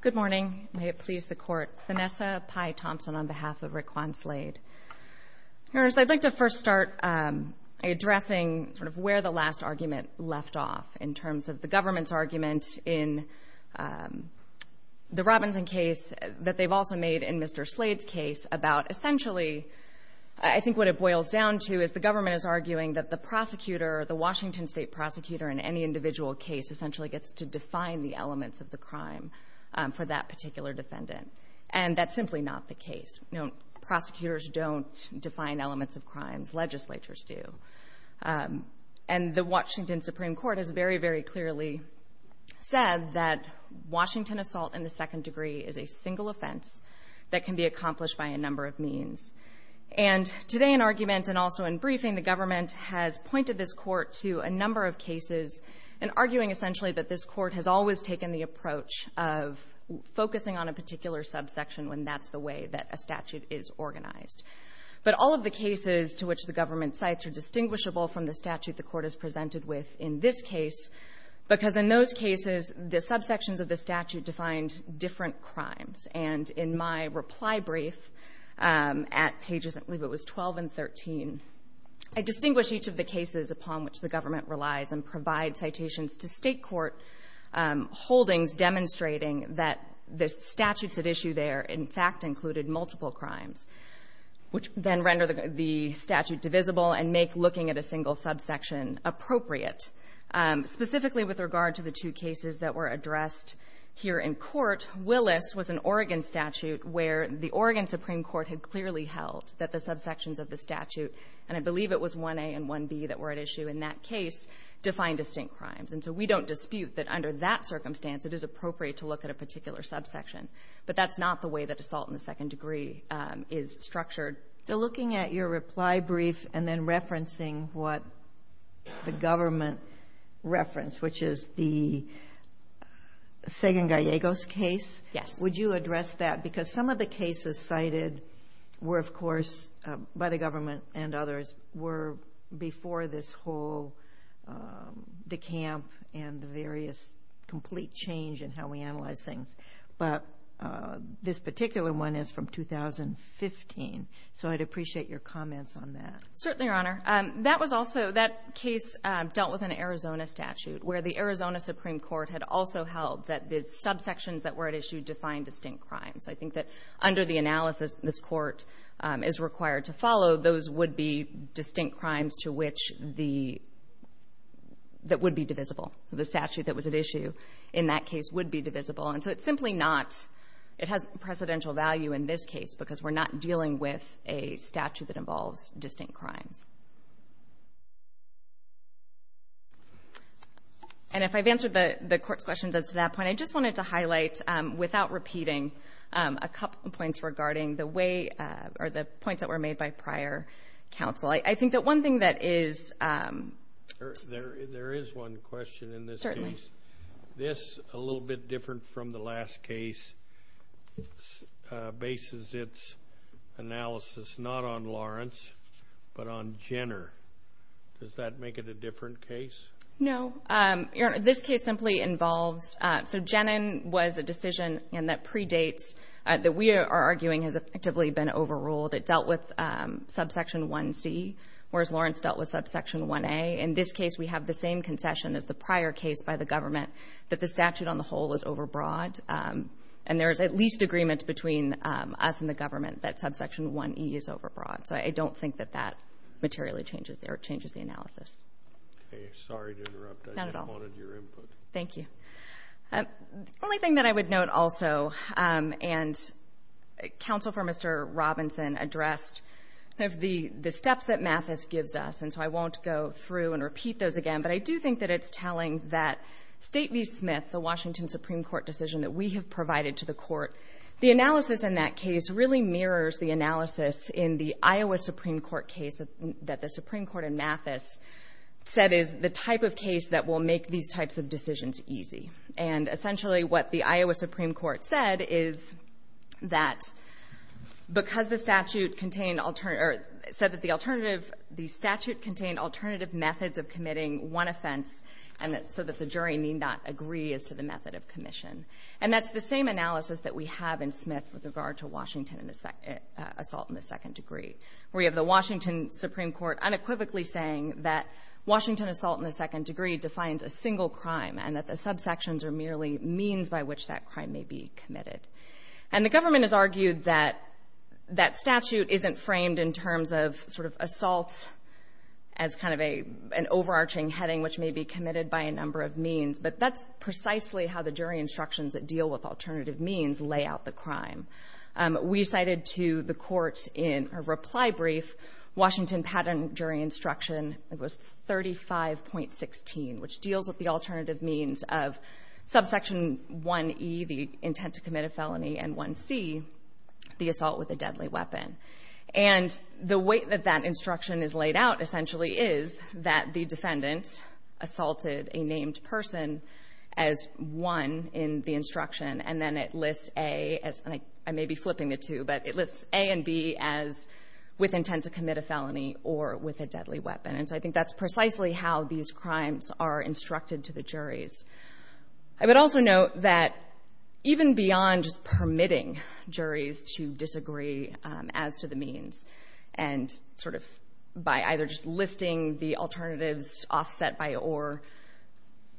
Good morning. May it please the Court. Vanessa Pye Thompson on behalf of Raqwon Slade. Your Honors, I'd like to first start addressing where the last argument left off in terms of the government's argument in the Robinson case that they've also made in Mr. Slade's case about essentially, I think what it boils down to is the government is arguing that the prosecutor, the Washington State prosecutor in any individual case essentially gets to define the elements of the crime for that particular defendant. And that's simply not the case. Prosecutors don't define elements of crimes. Legislatures do. And the Washington Supreme Court has very, very clearly said that Washington assault in the second degree is a single offense that can be of cases, and arguing essentially that this Court has always taken the approach of focusing on a particular subsection when that's the way that a statute is organized. But all of the cases to which the government cites are distinguishable from the statute the Court has presented with in this case, because in those cases, the subsections of the statute defined different crimes. And in my reply brief at pages, I believe it was 12 and 13, I distinguish each of the cases upon which the government relies and provide citations to state court holdings demonstrating that the statutes at issue there in fact included multiple crimes, which then render the statute divisible and make looking at a single subsection appropriate. Specifically with regard to the two cases that were addressed here in court, Willis was an Oregon statute where the Oregon Supreme Court had clearly held that the subsections of the statute, and I believe it was 1A and 1B that were at issue in that case, defined distinct crimes. And so we don't dispute that under that circumstance it is appropriate to look at a particular subsection. But that's not the way that assault in the second degree is structured. So looking at your reply brief and then referencing what the government referenced, which is the Sagan-Gallegos case, would you address that? Because some of the cases cited were, of course, by the government and others, were before this whole decamp and the various complete change in how we analyze things. But this particular one is from 2015. So I'd appreciate your comments on that. Certainly, Your Honor. That was also that case dealt with an Arizona statute where the Arizona Supreme Court had also held that the subsections that were at issue defined distinct crimes. So I think that under the analysis this Court is required to follow, those would be distinct crimes to which the that would be divisible. The statute that was at issue in that case would be divisible. And so it's simply not, it has precedential value in this case because we're not dealing with a statute that involves distinct crimes. And if I've answered the Court's questions as to that point, I just wanted to highlight without repeating a couple points regarding the way or the points that were made by prior counsel. I think that one thing that is. There is one question in this case. Certainly. This, a little bit different from the last case, bases its analysis not on Lawrence but on Jenner. Does that make it a different case? No. Your Honor, this case simply involves. So Jenner was a decision that predates, that we are arguing has effectively been overruled. It dealt with subsection 1C, whereas Lawrence dealt with subsection 1A. In this case, we have the same concession as the prior case by the government that the statute on the whole is overbroad. And there is at least agreement between us and the government that subsection 1E is overbroad. So I don't think that that materially changes the analysis. Okay. Sorry to interrupt. Not at all. I just wanted your input. Thank you. The only thing that I would note also, and counsel for Mr. Robinson addressed the steps that Mathis gives us, and so I won't go through and repeat those again, but I do think that it's telling that State v. Smith, the Washington Supreme Court decision that we have provided to the Court, the analysis in that case really mirrors the analysis in the Iowa Supreme Court case that the Supreme Court in Mathis said is the type of case that will make these types of decisions easy. And essentially what the Iowa Supreme Court said is that because the statute contained alternative or said that the alternative the statute contained alternative methods of committing one offense and so that the jury need not agree as to the method of commission. And that's the same analysis that we have in Smith with regard to Washington assault in the second degree. We have the Washington Supreme Court unequivocally saying that Washington assault in the second degree defines a single crime and that the subsections are merely means by which that crime may be committed. And the government has argued that that statute isn't framed in terms of sort of assault as kind of an overarching heading which may be committed by a number of means, but that's precisely how the jury instructions that deal with alternative means lay out the crime. We cited to the Court in a reply brief Washington pattern jury instruction, it was 35.16, which deals with the alternative means of subsection 1E, the intent to commit a felony, and 1C, the assault with a deadly weapon. And the way that that instruction is laid out essentially is that the defendant assaulted a named person as one in the instruction, and then it lists A as I may be flipping the two, but it lists A and B as with intent to commit a felony or with a deadly weapon. And so I think that's precisely how these crimes are instructed to the juries. I would also note that even beyond just permitting juries to disagree as to the means and sort of by either just listing the alternatives offset by or,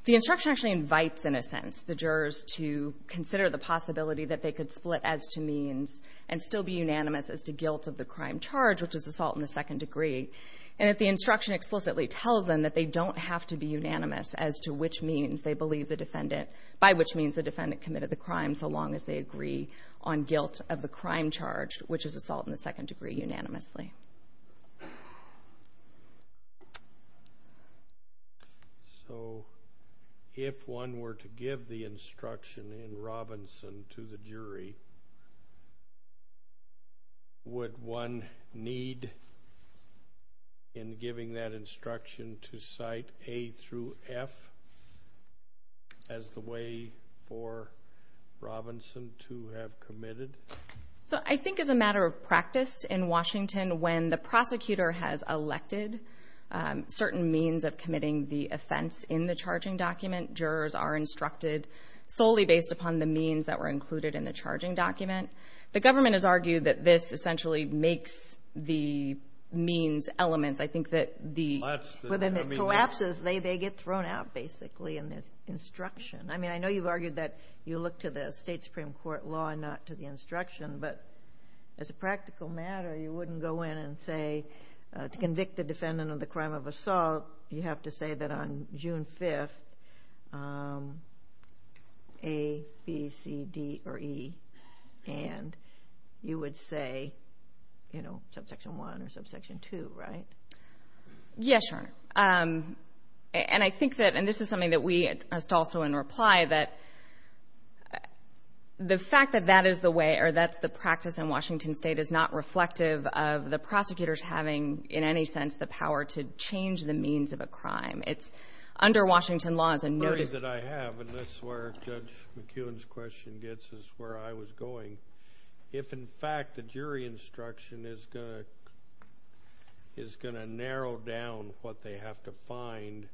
the instruction actually invites in a sense the jurors to consider the possibility that they could split as to means and still be unanimous as to guilt of the crime charge, which is assault in the second degree, and that the instruction explicitly tells them that they don't have to be unanimous as to which means they believe the defendant, by which means the defendant committed the crime so long as they agree on guilt of the crime charge, which is assault in the second degree unanimously. So if one were to give the instruction in Robinson to the jury, would one need in giving that instruction to cite A through F as the way for Robinson to have committed? So I think as a matter of practice in Washington, when the prosecutor has elected certain means of committing the offense in the charging document, jurors are instructed solely based upon the means that were in the charging document. The government has argued that this essentially makes the means elements. I think that when it collapses, they get thrown out basically in this instruction. I mean, I know you've argued that you look to the state Supreme Court law and not to the instruction, but as a practical matter, you wouldn't go in and say to convict the defendant of the crime of assault, you have to say that on June 5th, A, B, C, D, or E, and you would say subsection 1 or subsection 2, right? Yes, Your Honor. And I think that, and this is something that we asked also in reply, that the fact that that is the way or that's the practice in Washington State is not a means of a crime. It's under Washington law as a notice. The query that I have, and this is where Judge McEwen's question gets us where I was going, if in fact the jury instruction is going to narrow down what they have to find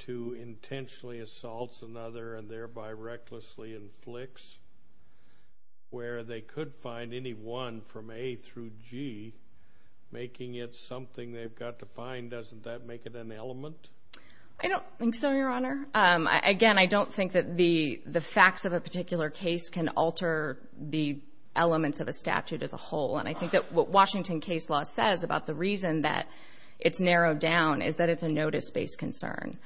to intentionally assaults another and thereby recklessly inflicts where they could find any one from A through G, making it something they've got to find, doesn't that make it an element? I don't think so, Your Honor. Again, I don't think that the facts of a particular case can alter the elements of a statute as a whole, and I think that what Washington case law says about the reason that it's narrowed down is that it's a notice-based concern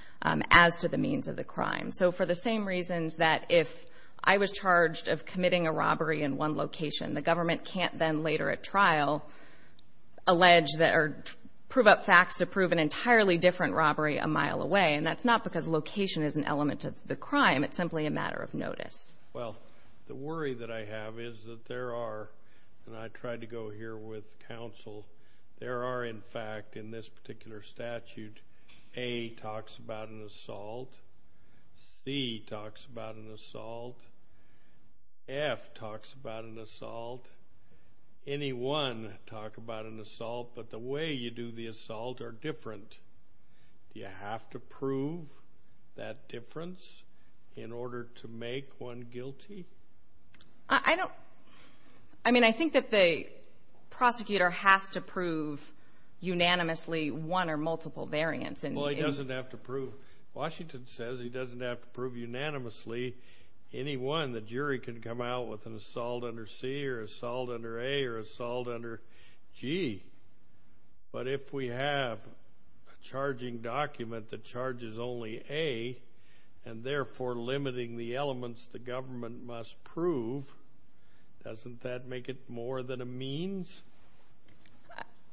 as to the means of the crime. So for the same reasons that if I was charged of committing a robbery in one location, the government can't then later at trial prove up facts to prove an entirely different robbery a mile away, and that's not because location is an element of the crime. It's simply a matter of notice. Well, the worry that I have is that there are, and I tried to go here with counsel, there are in fact in this particular statute A talks about an assault, C talks about an assault, F talks about an assault, any one talk about an assault, but the way you do the assault are different. Do you have to prove that difference in order to make one guilty? I don't. I mean, I think that the prosecutor has to prove unanimously one or multiple variants. Well, he doesn't have to prove. Washington says he doesn't have to prove unanimously any one the jury can come out with an assault under C or assault under A or assault under G. But if we have a charging document that charges only A and therefore limiting the elements the government must prove, doesn't that make it more than a means?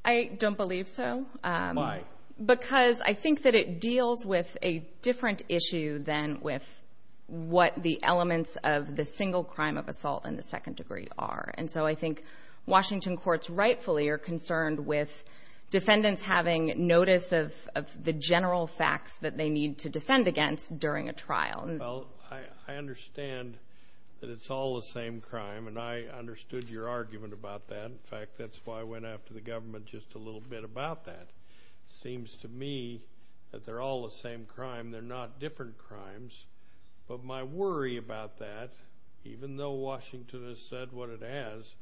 I don't believe so. Why? Because I think that it deals with a different issue than with what the elements of the single crime of assault in the second degree are. And so I think Washington courts rightfully are concerned with defendants having notice of the general facts that they need to defend against during a trial. Well, I understand that it's all the same crime, and I understood your argument about that. In fact, that's why I went after the government just a little bit about that. It seems to me that they're all the same crime. They're not different crimes. But my worry about that, even though Washington has said what it has,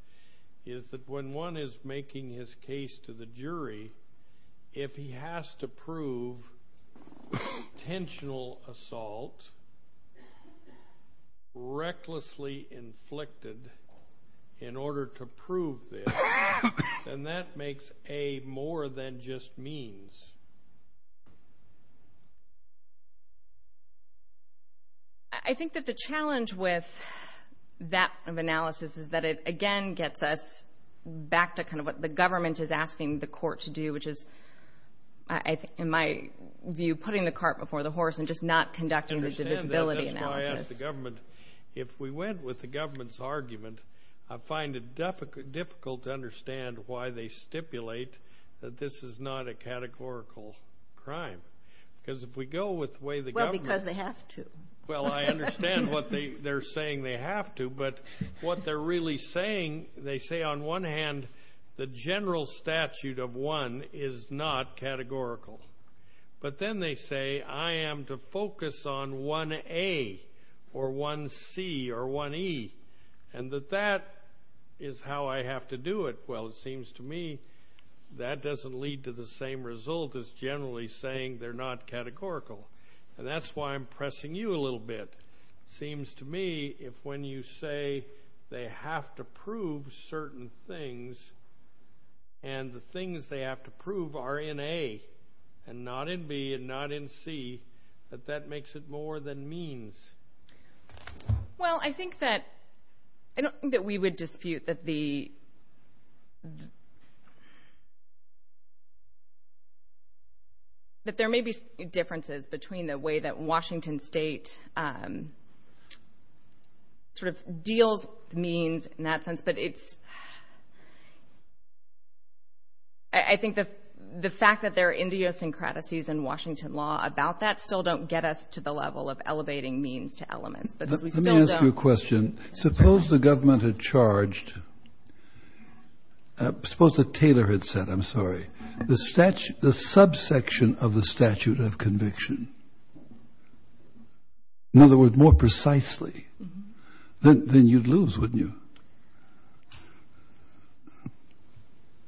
is that when one is making his case to the jury, if he has to prove intentional assault, recklessly inflicted in order to prove this, then that makes A more than just means. I think that the challenge with that analysis is that it, again, gets us back to kind of what the government is asking the court to do, which is, in my view, putting the cart before the horse and just not conducting the divisibility analysis. I understand that. That's why I asked the government. If we went with the government's argument, I find it difficult to understand why they stipulate that this is not a categorical crime. Because if we go with the way the government. Well, because they have to. Well, I understand what they're saying they have to, but what they're really saying, they say, on one hand, the general statute of one is not categorical. But then they say I am to focus on 1A or 1C or 1E, and that that is how I have to do it. Well, it seems to me that doesn't lead to the same result as generally saying they're not categorical. And that's why I'm pressing you a little bit. It seems to me if when you say they have to prove certain things and the things they have to prove are in A and not in B and not in C, that that makes it more than means. Well, I think that we would dispute that there may be differences between the way that Washington State sort of deals with means in that sense. But I think the fact that there are idiosyncrasies in Washington law about that still don't get us to the level of elevating means to elements. But as we still don't. Let me ask you a question. Suppose the government had charged, suppose that Taylor had said, I'm sorry, the subsection of the statute of conviction, in other words, more precisely, then you'd lose, wouldn't you?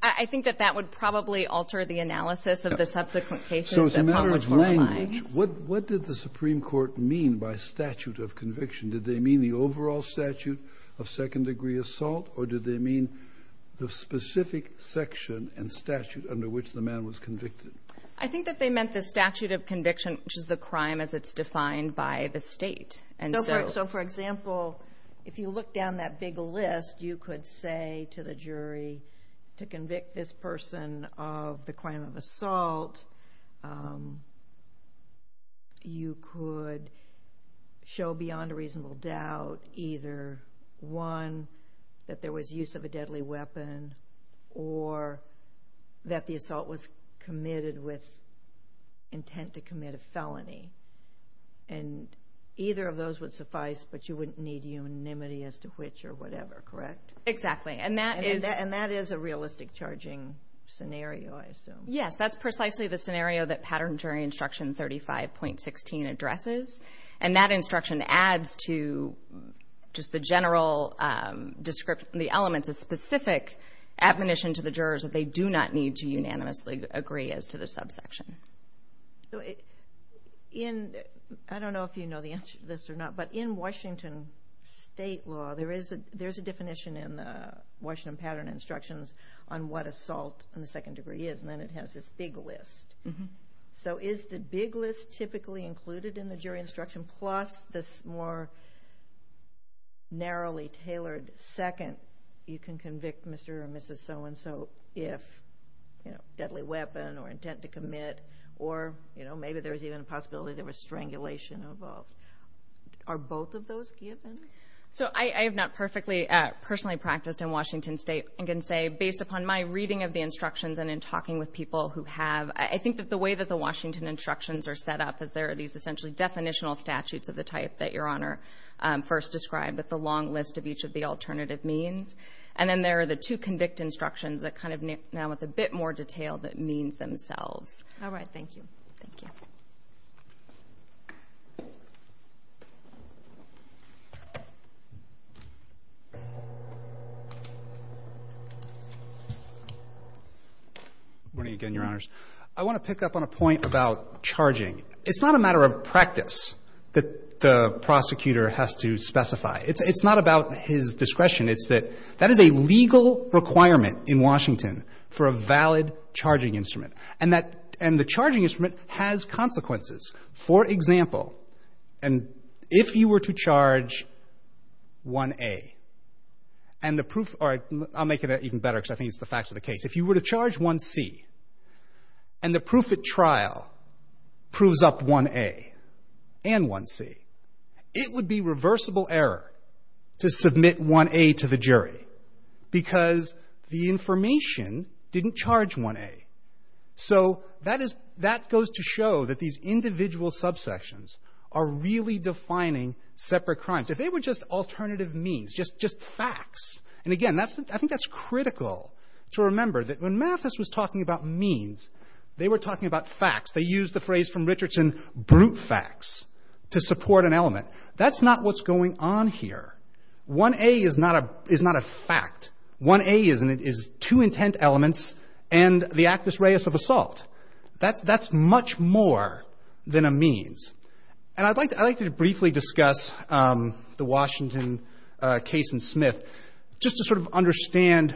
I think that that would probably alter the analysis of the subsequent cases. So as a matter of language, what did the Supreme Court mean by statute of conviction? Did they mean the overall statute of second-degree assault, or did they mean the specific section and statute under which the man was convicted? I think that they meant the statute of conviction, which is the crime as it's defined by the state. So, for example, if you look down that big list, you could say to the jury, to convict this person of the crime of assault, you could show beyond a reasonable doubt either, one, that there was use of a deadly weapon, or that the assault was committed with intent to commit a felony. And either of those would suffice, but you wouldn't need unanimity as to which or whatever, correct? Exactly. And that is a realistic charging scenario, I assume. Yes, that's precisely the scenario that Pattern and Jury Instruction 35.16 addresses, and that instruction adds to just the general description, the elements of specific admonition to the jurors that they do not need to unanimously agree as to the subsection. I don't know if you know the answer to this or not, but in Washington state law, there's a definition in the Washington Pattern and Instructions on what assault in the second degree is, and then it has this big list. So is the big list typically included in the jury instruction, plus this more narrowly tailored second, you can convict Mr. or Mrs. So-and-so if, you know, deadly weapon or intent to commit, or, you know, maybe there's even a possibility there was strangulation involved. Are both of those given? So I have not perfectly personally practiced in Washington state. I can say based upon my reading of the instructions and in talking with people who have, I think that the way that the Washington instructions are set up is there are these essentially definitional statutes of the type that Your Honor first described with the long list of each of the alternative means, and then there are the two convict instructions that kind of now with a bit more detail that means themselves. All right. Thank you. Thank you. Good morning again, Your Honors. I want to pick up on a point about charging. It's not a matter of practice that the prosecutor has to specify. It's not about his discretion. It's that that is a legal requirement in Washington for a valid charging instrument, and the charging instrument has consequences. For example, and if you were to charge 1A and the proof or I'll make it even better because I think it's the facts of the case. If you were to charge 1C and the proof at trial proves up 1A and 1C, it would be reversible error to submit 1A to the jury because the information didn't charge 1A. So that goes to show that these individual subsections are really defining separate crimes. If they were just alternative means, just facts, and again, I think that's critical to remember that when Mathis was talking about means, they were talking about facts. They used the phrase from Richardson, brute facts, to support an element. That's not what's going on here. 1A is not a fact. 1A is two intent elements and the actus reus of assault. That's much more than a means. And I'd like to briefly discuss the Washington case in Smith just to sort of understand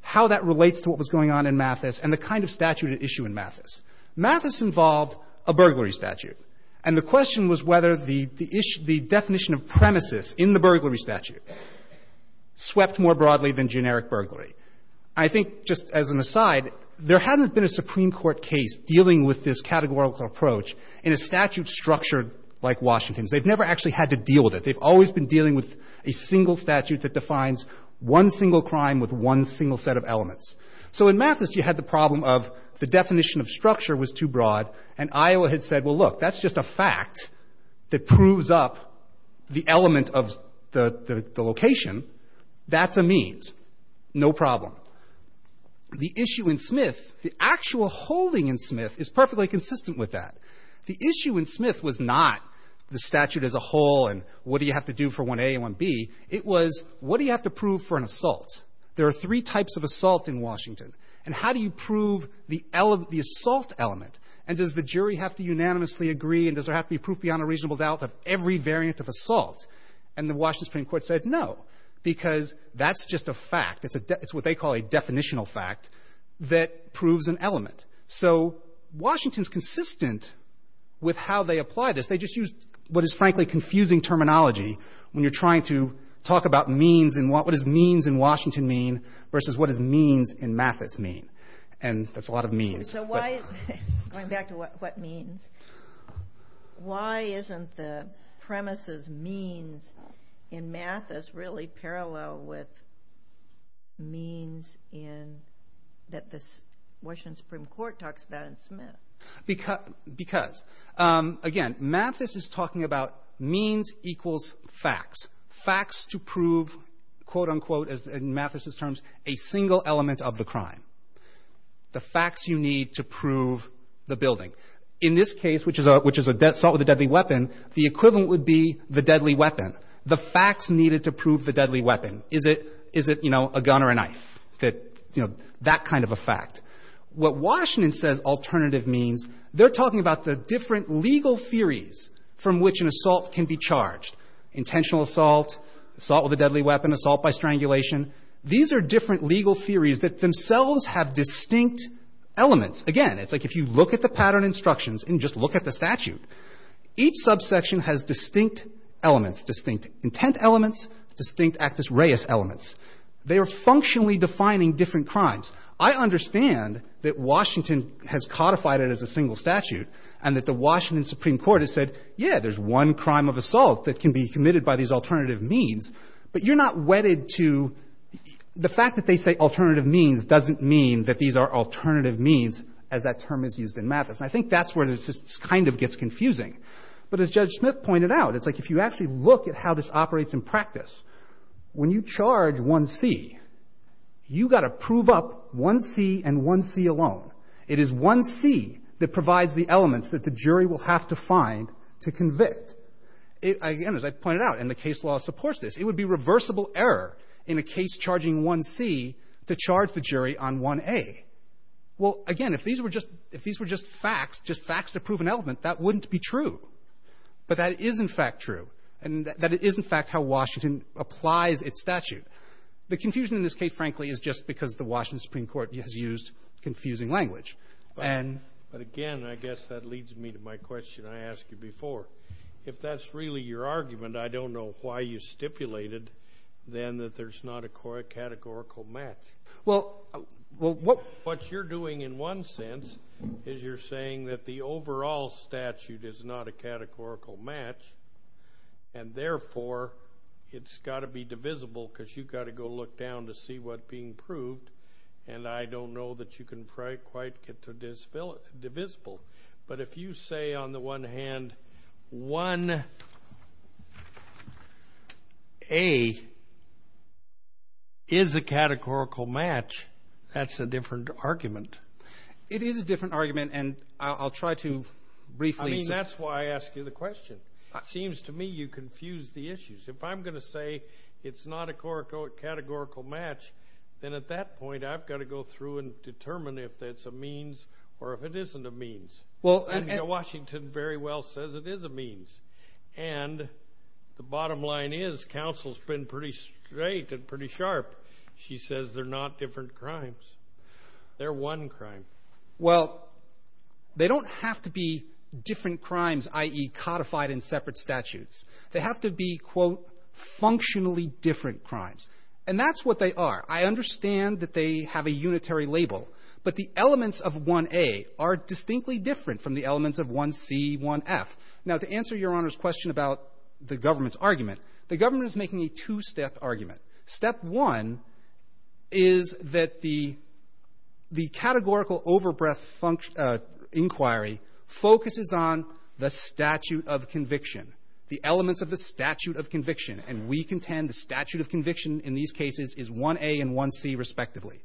how that relates to what was going on in Mathis and the kind of statute at issue in Mathis. Mathis involved a burglary statute, and the question was whether the definition of premises in the burglary statute swept more broadly than generic burglary. I think just as an aside, there hasn't been a Supreme Court case dealing with this categorical approach in a statute structured like Washington's. They've never actually had to deal with it. They've always been dealing with a single statute that defines one single crime with one single set of elements. So in Mathis, you had the problem of the definition of structure was too broad, and Iowa had said, well, look, that's just a fact that proves up the element of the location. That's a means. No problem. The issue in Smith, the actual holding in Smith is perfectly consistent with that. The issue in Smith was not the statute as a whole and what do you have to do for 1A and 1B. It was what do you have to prove for an assault. There are three types of assault in Washington. And how do you prove the assault element, and does the jury have to unanimously agree and does there have to be proof beyond a reasonable doubt of every variant of assault? And the Washington Supreme Court said no, because that's just a fact. It's what they call a definitional fact that proves an element. So Washington's consistent with how they apply this. They just use what is, frankly, confusing terminology when you're trying to talk about what does means in Washington mean versus what does means in Mathis mean. And that's a lot of means. Going back to what means, why isn't the premises means in Mathis really parallel with means that the Washington Supreme Court talks about in Smith? Because, again, Mathis is talking about means equals facts. Facts to prove, quote, unquote, in Mathis's terms, a single element of the crime. The facts you need to prove the building. In this case, which is assault with a deadly weapon, the equivalent would be the deadly weapon. The facts needed to prove the deadly weapon. Is it, you know, a gun or a knife? That kind of a fact. What Washington says alternative means, they're talking about the different legal theories from which an assault can be charged. Intentional assault, assault with a deadly weapon, assault by strangulation. These are different legal theories that themselves have distinct elements. Again, it's like if you look at the pattern instructions and just look at the statute, each subsection has distinct elements, distinct intent elements, distinct actus reus elements. They are functionally defining different crimes. I understand that Washington has codified it as a single statute and that the Washington Supreme Court has said, yeah, there's one crime of assault that can be committed by these alternative means, but you're not wedded to the fact that they say alternative means doesn't mean that these are alternative means as that term is used in Mathis. And I think that's where this just kind of gets confusing. But as Judge Smith pointed out, it's like if you actually look at how this operates in practice, when you charge 1C, you've got to prove up 1C and 1C alone. It is 1C that provides the elements that the jury will have to find to convict. Again, as I pointed out, and the case law supports this, it would be reversible error in a case charging 1C to charge the jury on 1A. Well, again, if these were just facts, just facts to prove an element, that wouldn't be true. But that is, in fact, true, and that is, in fact, how Washington applies its statute. The confusion in this case, frankly, is just because the Washington Supreme Court has used confusing language. But again, I guess that leads me to my question I asked you before. If that's really your argument, I don't know why you stipulated then that there's not a categorical match. Well, what you're doing in one sense is you're saying that the overall statute is not a categorical match, and therefore, it's got to be divisible because you've got to go look down to see what's being proved, and I don't know that you can quite get to divisible. But if you say, on the one hand, 1A is a categorical match, that's a different argument. It is a different argument, and I'll try to briefly... I mean, that's why I asked you the question. It seems to me you confused the issues. If I'm going to say it's not a categorical match, then at that point, I've got to go through and determine if that's a means or if it isn't a means. And Washington very well says it is a means. And the bottom line is counsel's been pretty straight and pretty sharp. She says they're not different crimes. They're one crime. Well, they don't have to be different crimes, i.e., codified in separate statutes. They have to be, quote, functionally different crimes. And that's what they are. I understand that they have a unitary label, but the elements of 1A are distinctly different from the elements of 1C, 1F. Now, to answer Your Honor's question about the government's argument, the government is making a two-step argument. Step one is that the categorical overbreath inquiry focuses on the statute of conviction, the elements of the statute of conviction. And we contend the statute of conviction in these cases is 1A and 1C respectively.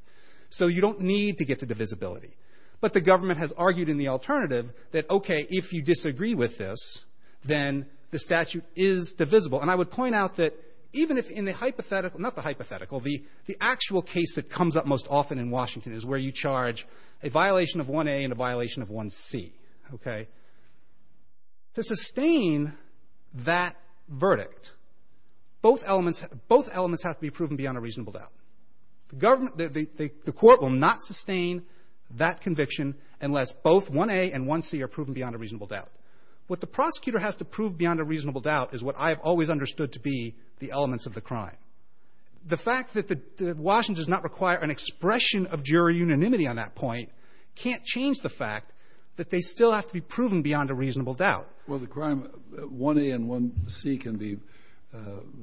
So you don't need to get to divisibility. But the government has argued in the alternative that, okay, if you disagree with this, then the statute is divisible. And I would point out that even if in the hypothetical, not the hypothetical, the actual case that comes up most often in Washington is where you charge a violation of 1A and a violation of 1C, okay? To sustain that verdict, both elements have to be proven beyond a reasonable doubt. The court will not sustain that conviction unless both 1A and 1C are proven beyond a reasonable doubt. What the prosecutor has to prove beyond a reasonable doubt is what I have always understood to be the elements of the crime. The fact that Washington does not require an expression of jury unanimity on that point can't change the fact that they still have to be proven beyond a reasonable doubt. Well, the crime 1A and 1C can be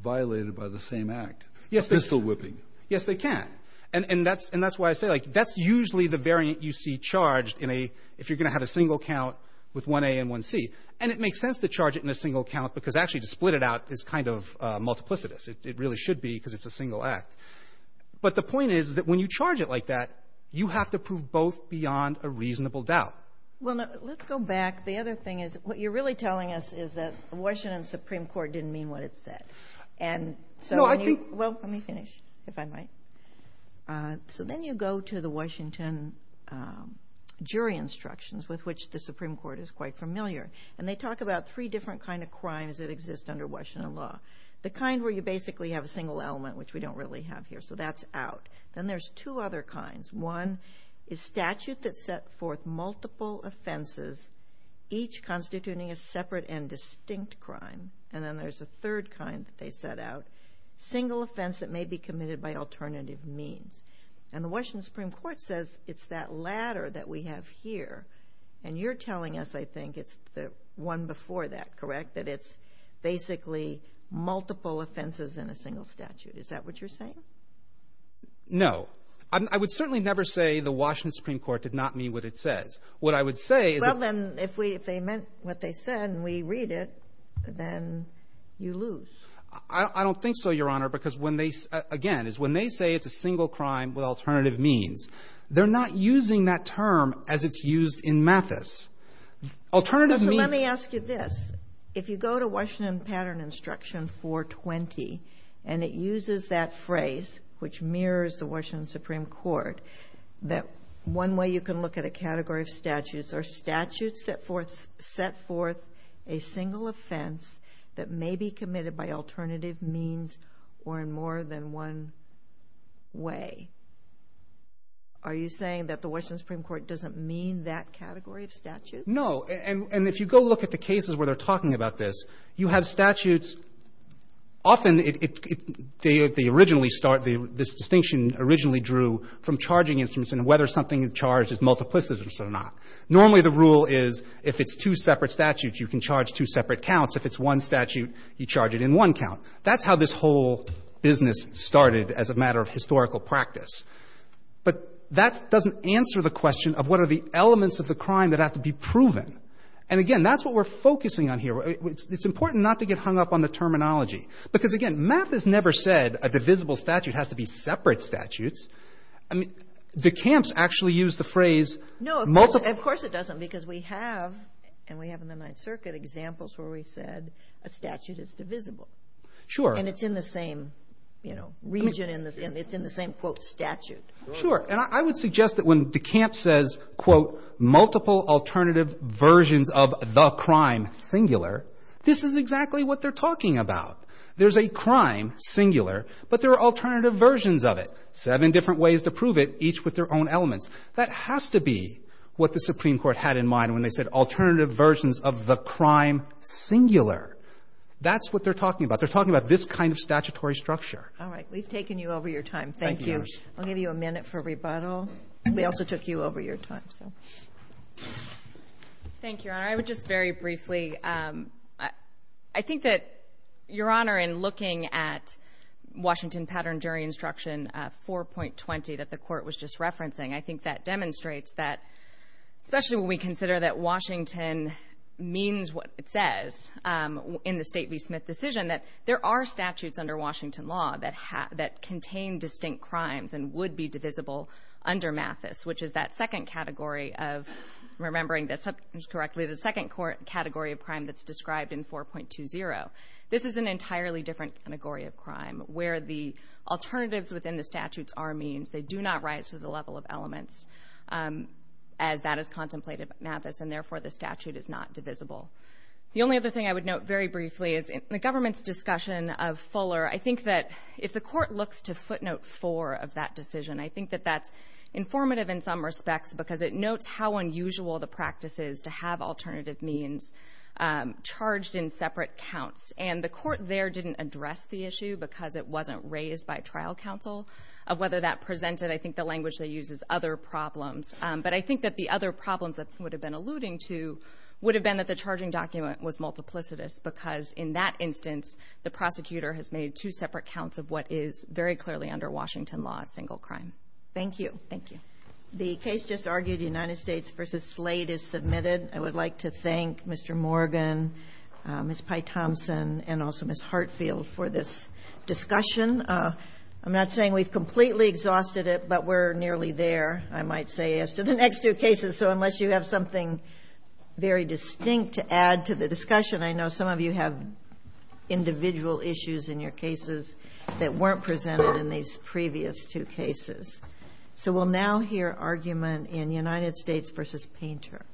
violated by the same act. Yes, they can. Pistol whipping. Yes, they can. And that's why I say, like, that's usually the variant you see charged if you're going to have a single count with 1A and 1C. And it makes sense to charge it in a single count because actually to split it out is kind of multiplicitous. It really should be because it's a single act. But the point is that when you charge it like that, you have to prove both beyond a reasonable doubt. Well, let's go back. The other thing is what you're really telling us is that the Washington Supreme Court didn't mean what it said. And so when you go to the Washington jury instructions, with which the Supreme Court is quite familiar, and they talk about three different kind of crimes that exist under Washington law, the kind where you basically have a single element, which we don't really have here. So that's out. Then there's two other kinds. One is statute that set forth multiple offenses, each constituting a separate and distinct crime. And then there's a third kind that they set out, single offense that may be committed by alternative means. And the Washington Supreme Court says it's that latter that we have here. And you're telling us, I think, it's the one before that, correct, that it's basically multiple offenses in a single statute. Is that what you're saying? No. I would certainly never say the Washington Supreme Court did not mean what it says. What I would say is that — Well, then, if they meant what they said and we read it, then you lose. I don't think so, Your Honor, because when they — again, is when they say it's a single crime with alternative means, they're not using that term as it's used in Mathis. Alternative means — Let me ask you this. If you go to Washington Pattern Instruction 420 and it uses that phrase, which mirrors the Washington Supreme Court, that one way you can look at a category of statutes are statutes that set forth a single offense that may be committed by alternative means or in more than one way. Are you saying that the Washington Supreme Court doesn't mean that category of statute? No. And if you go look at the cases where they're talking about this, you have statutes — often it — they originally start — this distinction originally drew from charging instruments and whether something charged is multiplicitous or not. Normally, the rule is if it's two separate statutes, you can charge two separate counts. If it's one statute, you charge it in one count. That's how this whole business started as a matter of historical practice. But that doesn't answer the question of what are the elements of the crime that have to be proven. And again, that's what we're focusing on here. It's important not to get hung up on the terminology, because, again, math has never said a divisible statute has to be separate statutes. I mean, DeCamps actually used the phrase — No, of course it doesn't, because we have — and we have in the Ninth Circuit examples where we said a statute is divisible. Sure. And it's in the same, you know, region in the — it's in the same, quote, statute. Sure. And I would suggest that when DeCamps says, quote, multiple alternative versions of the crime singular, this is exactly what they're talking about. There's a crime singular, but there are alternative versions of it, seven different ways to prove it, each with their own elements. That has to be what the Supreme Court had in mind when they said alternative versions of the crime singular. That's what they're talking about. They're talking about this kind of statutory structure. All right. We've taken you over your time. Thank you. I'll give you a minute for rebuttal. We also took you over your time, so. Thank you, Your Honor. I would just very briefly — I think that, Your Honor, in looking at Washington pattern jury instruction 4.20 that the Court was just referencing, I think that demonstrates that, especially when we consider that Washington means what it says in the State v. Smith decision, that there are statutes under Washington law that contain distinct crimes and would be divisible under Mathis, which is that second category of — remembering this correctly — the second category of crime that's described in 4.20. This is an entirely different category of crime where the alternatives within the statutes are means. They do not rise to the level of elements as that is contemplated by Mathis, and therefore, the statute is not divisible. The only other thing I would note very briefly is in the government's discussion of Fuller, I think that if the Court looks to footnote 4 of that decision, I think that that's informative in some respects because it notes how unusual the practice is to have alternative means charged in separate counts. And the Court there didn't address the issue because it wasn't raised by trial counsel of whether that presented, I think, the language they use as other problems. But I think that the other problems that would have been alluding to would have been that the charging document was multiplicitous because in that instance, the prosecutor has made two separate counts of what is very clearly under Washington law a single crime. Thank you. Thank you. The case just argued, United States v. Slade, is submitted. I would like to thank Mr. Morgan, Ms. Pythompson, and also Ms. Hartfield for this discussion. I'm not saying we've completely exhausted it, but we're nearly there, I might say, as to the next two cases. So unless you have something very distinct to add to the discussion, I know some of you have individual issues in your cases that weren't presented in these previous two cases. So we'll now hear argument in United States v. Painter.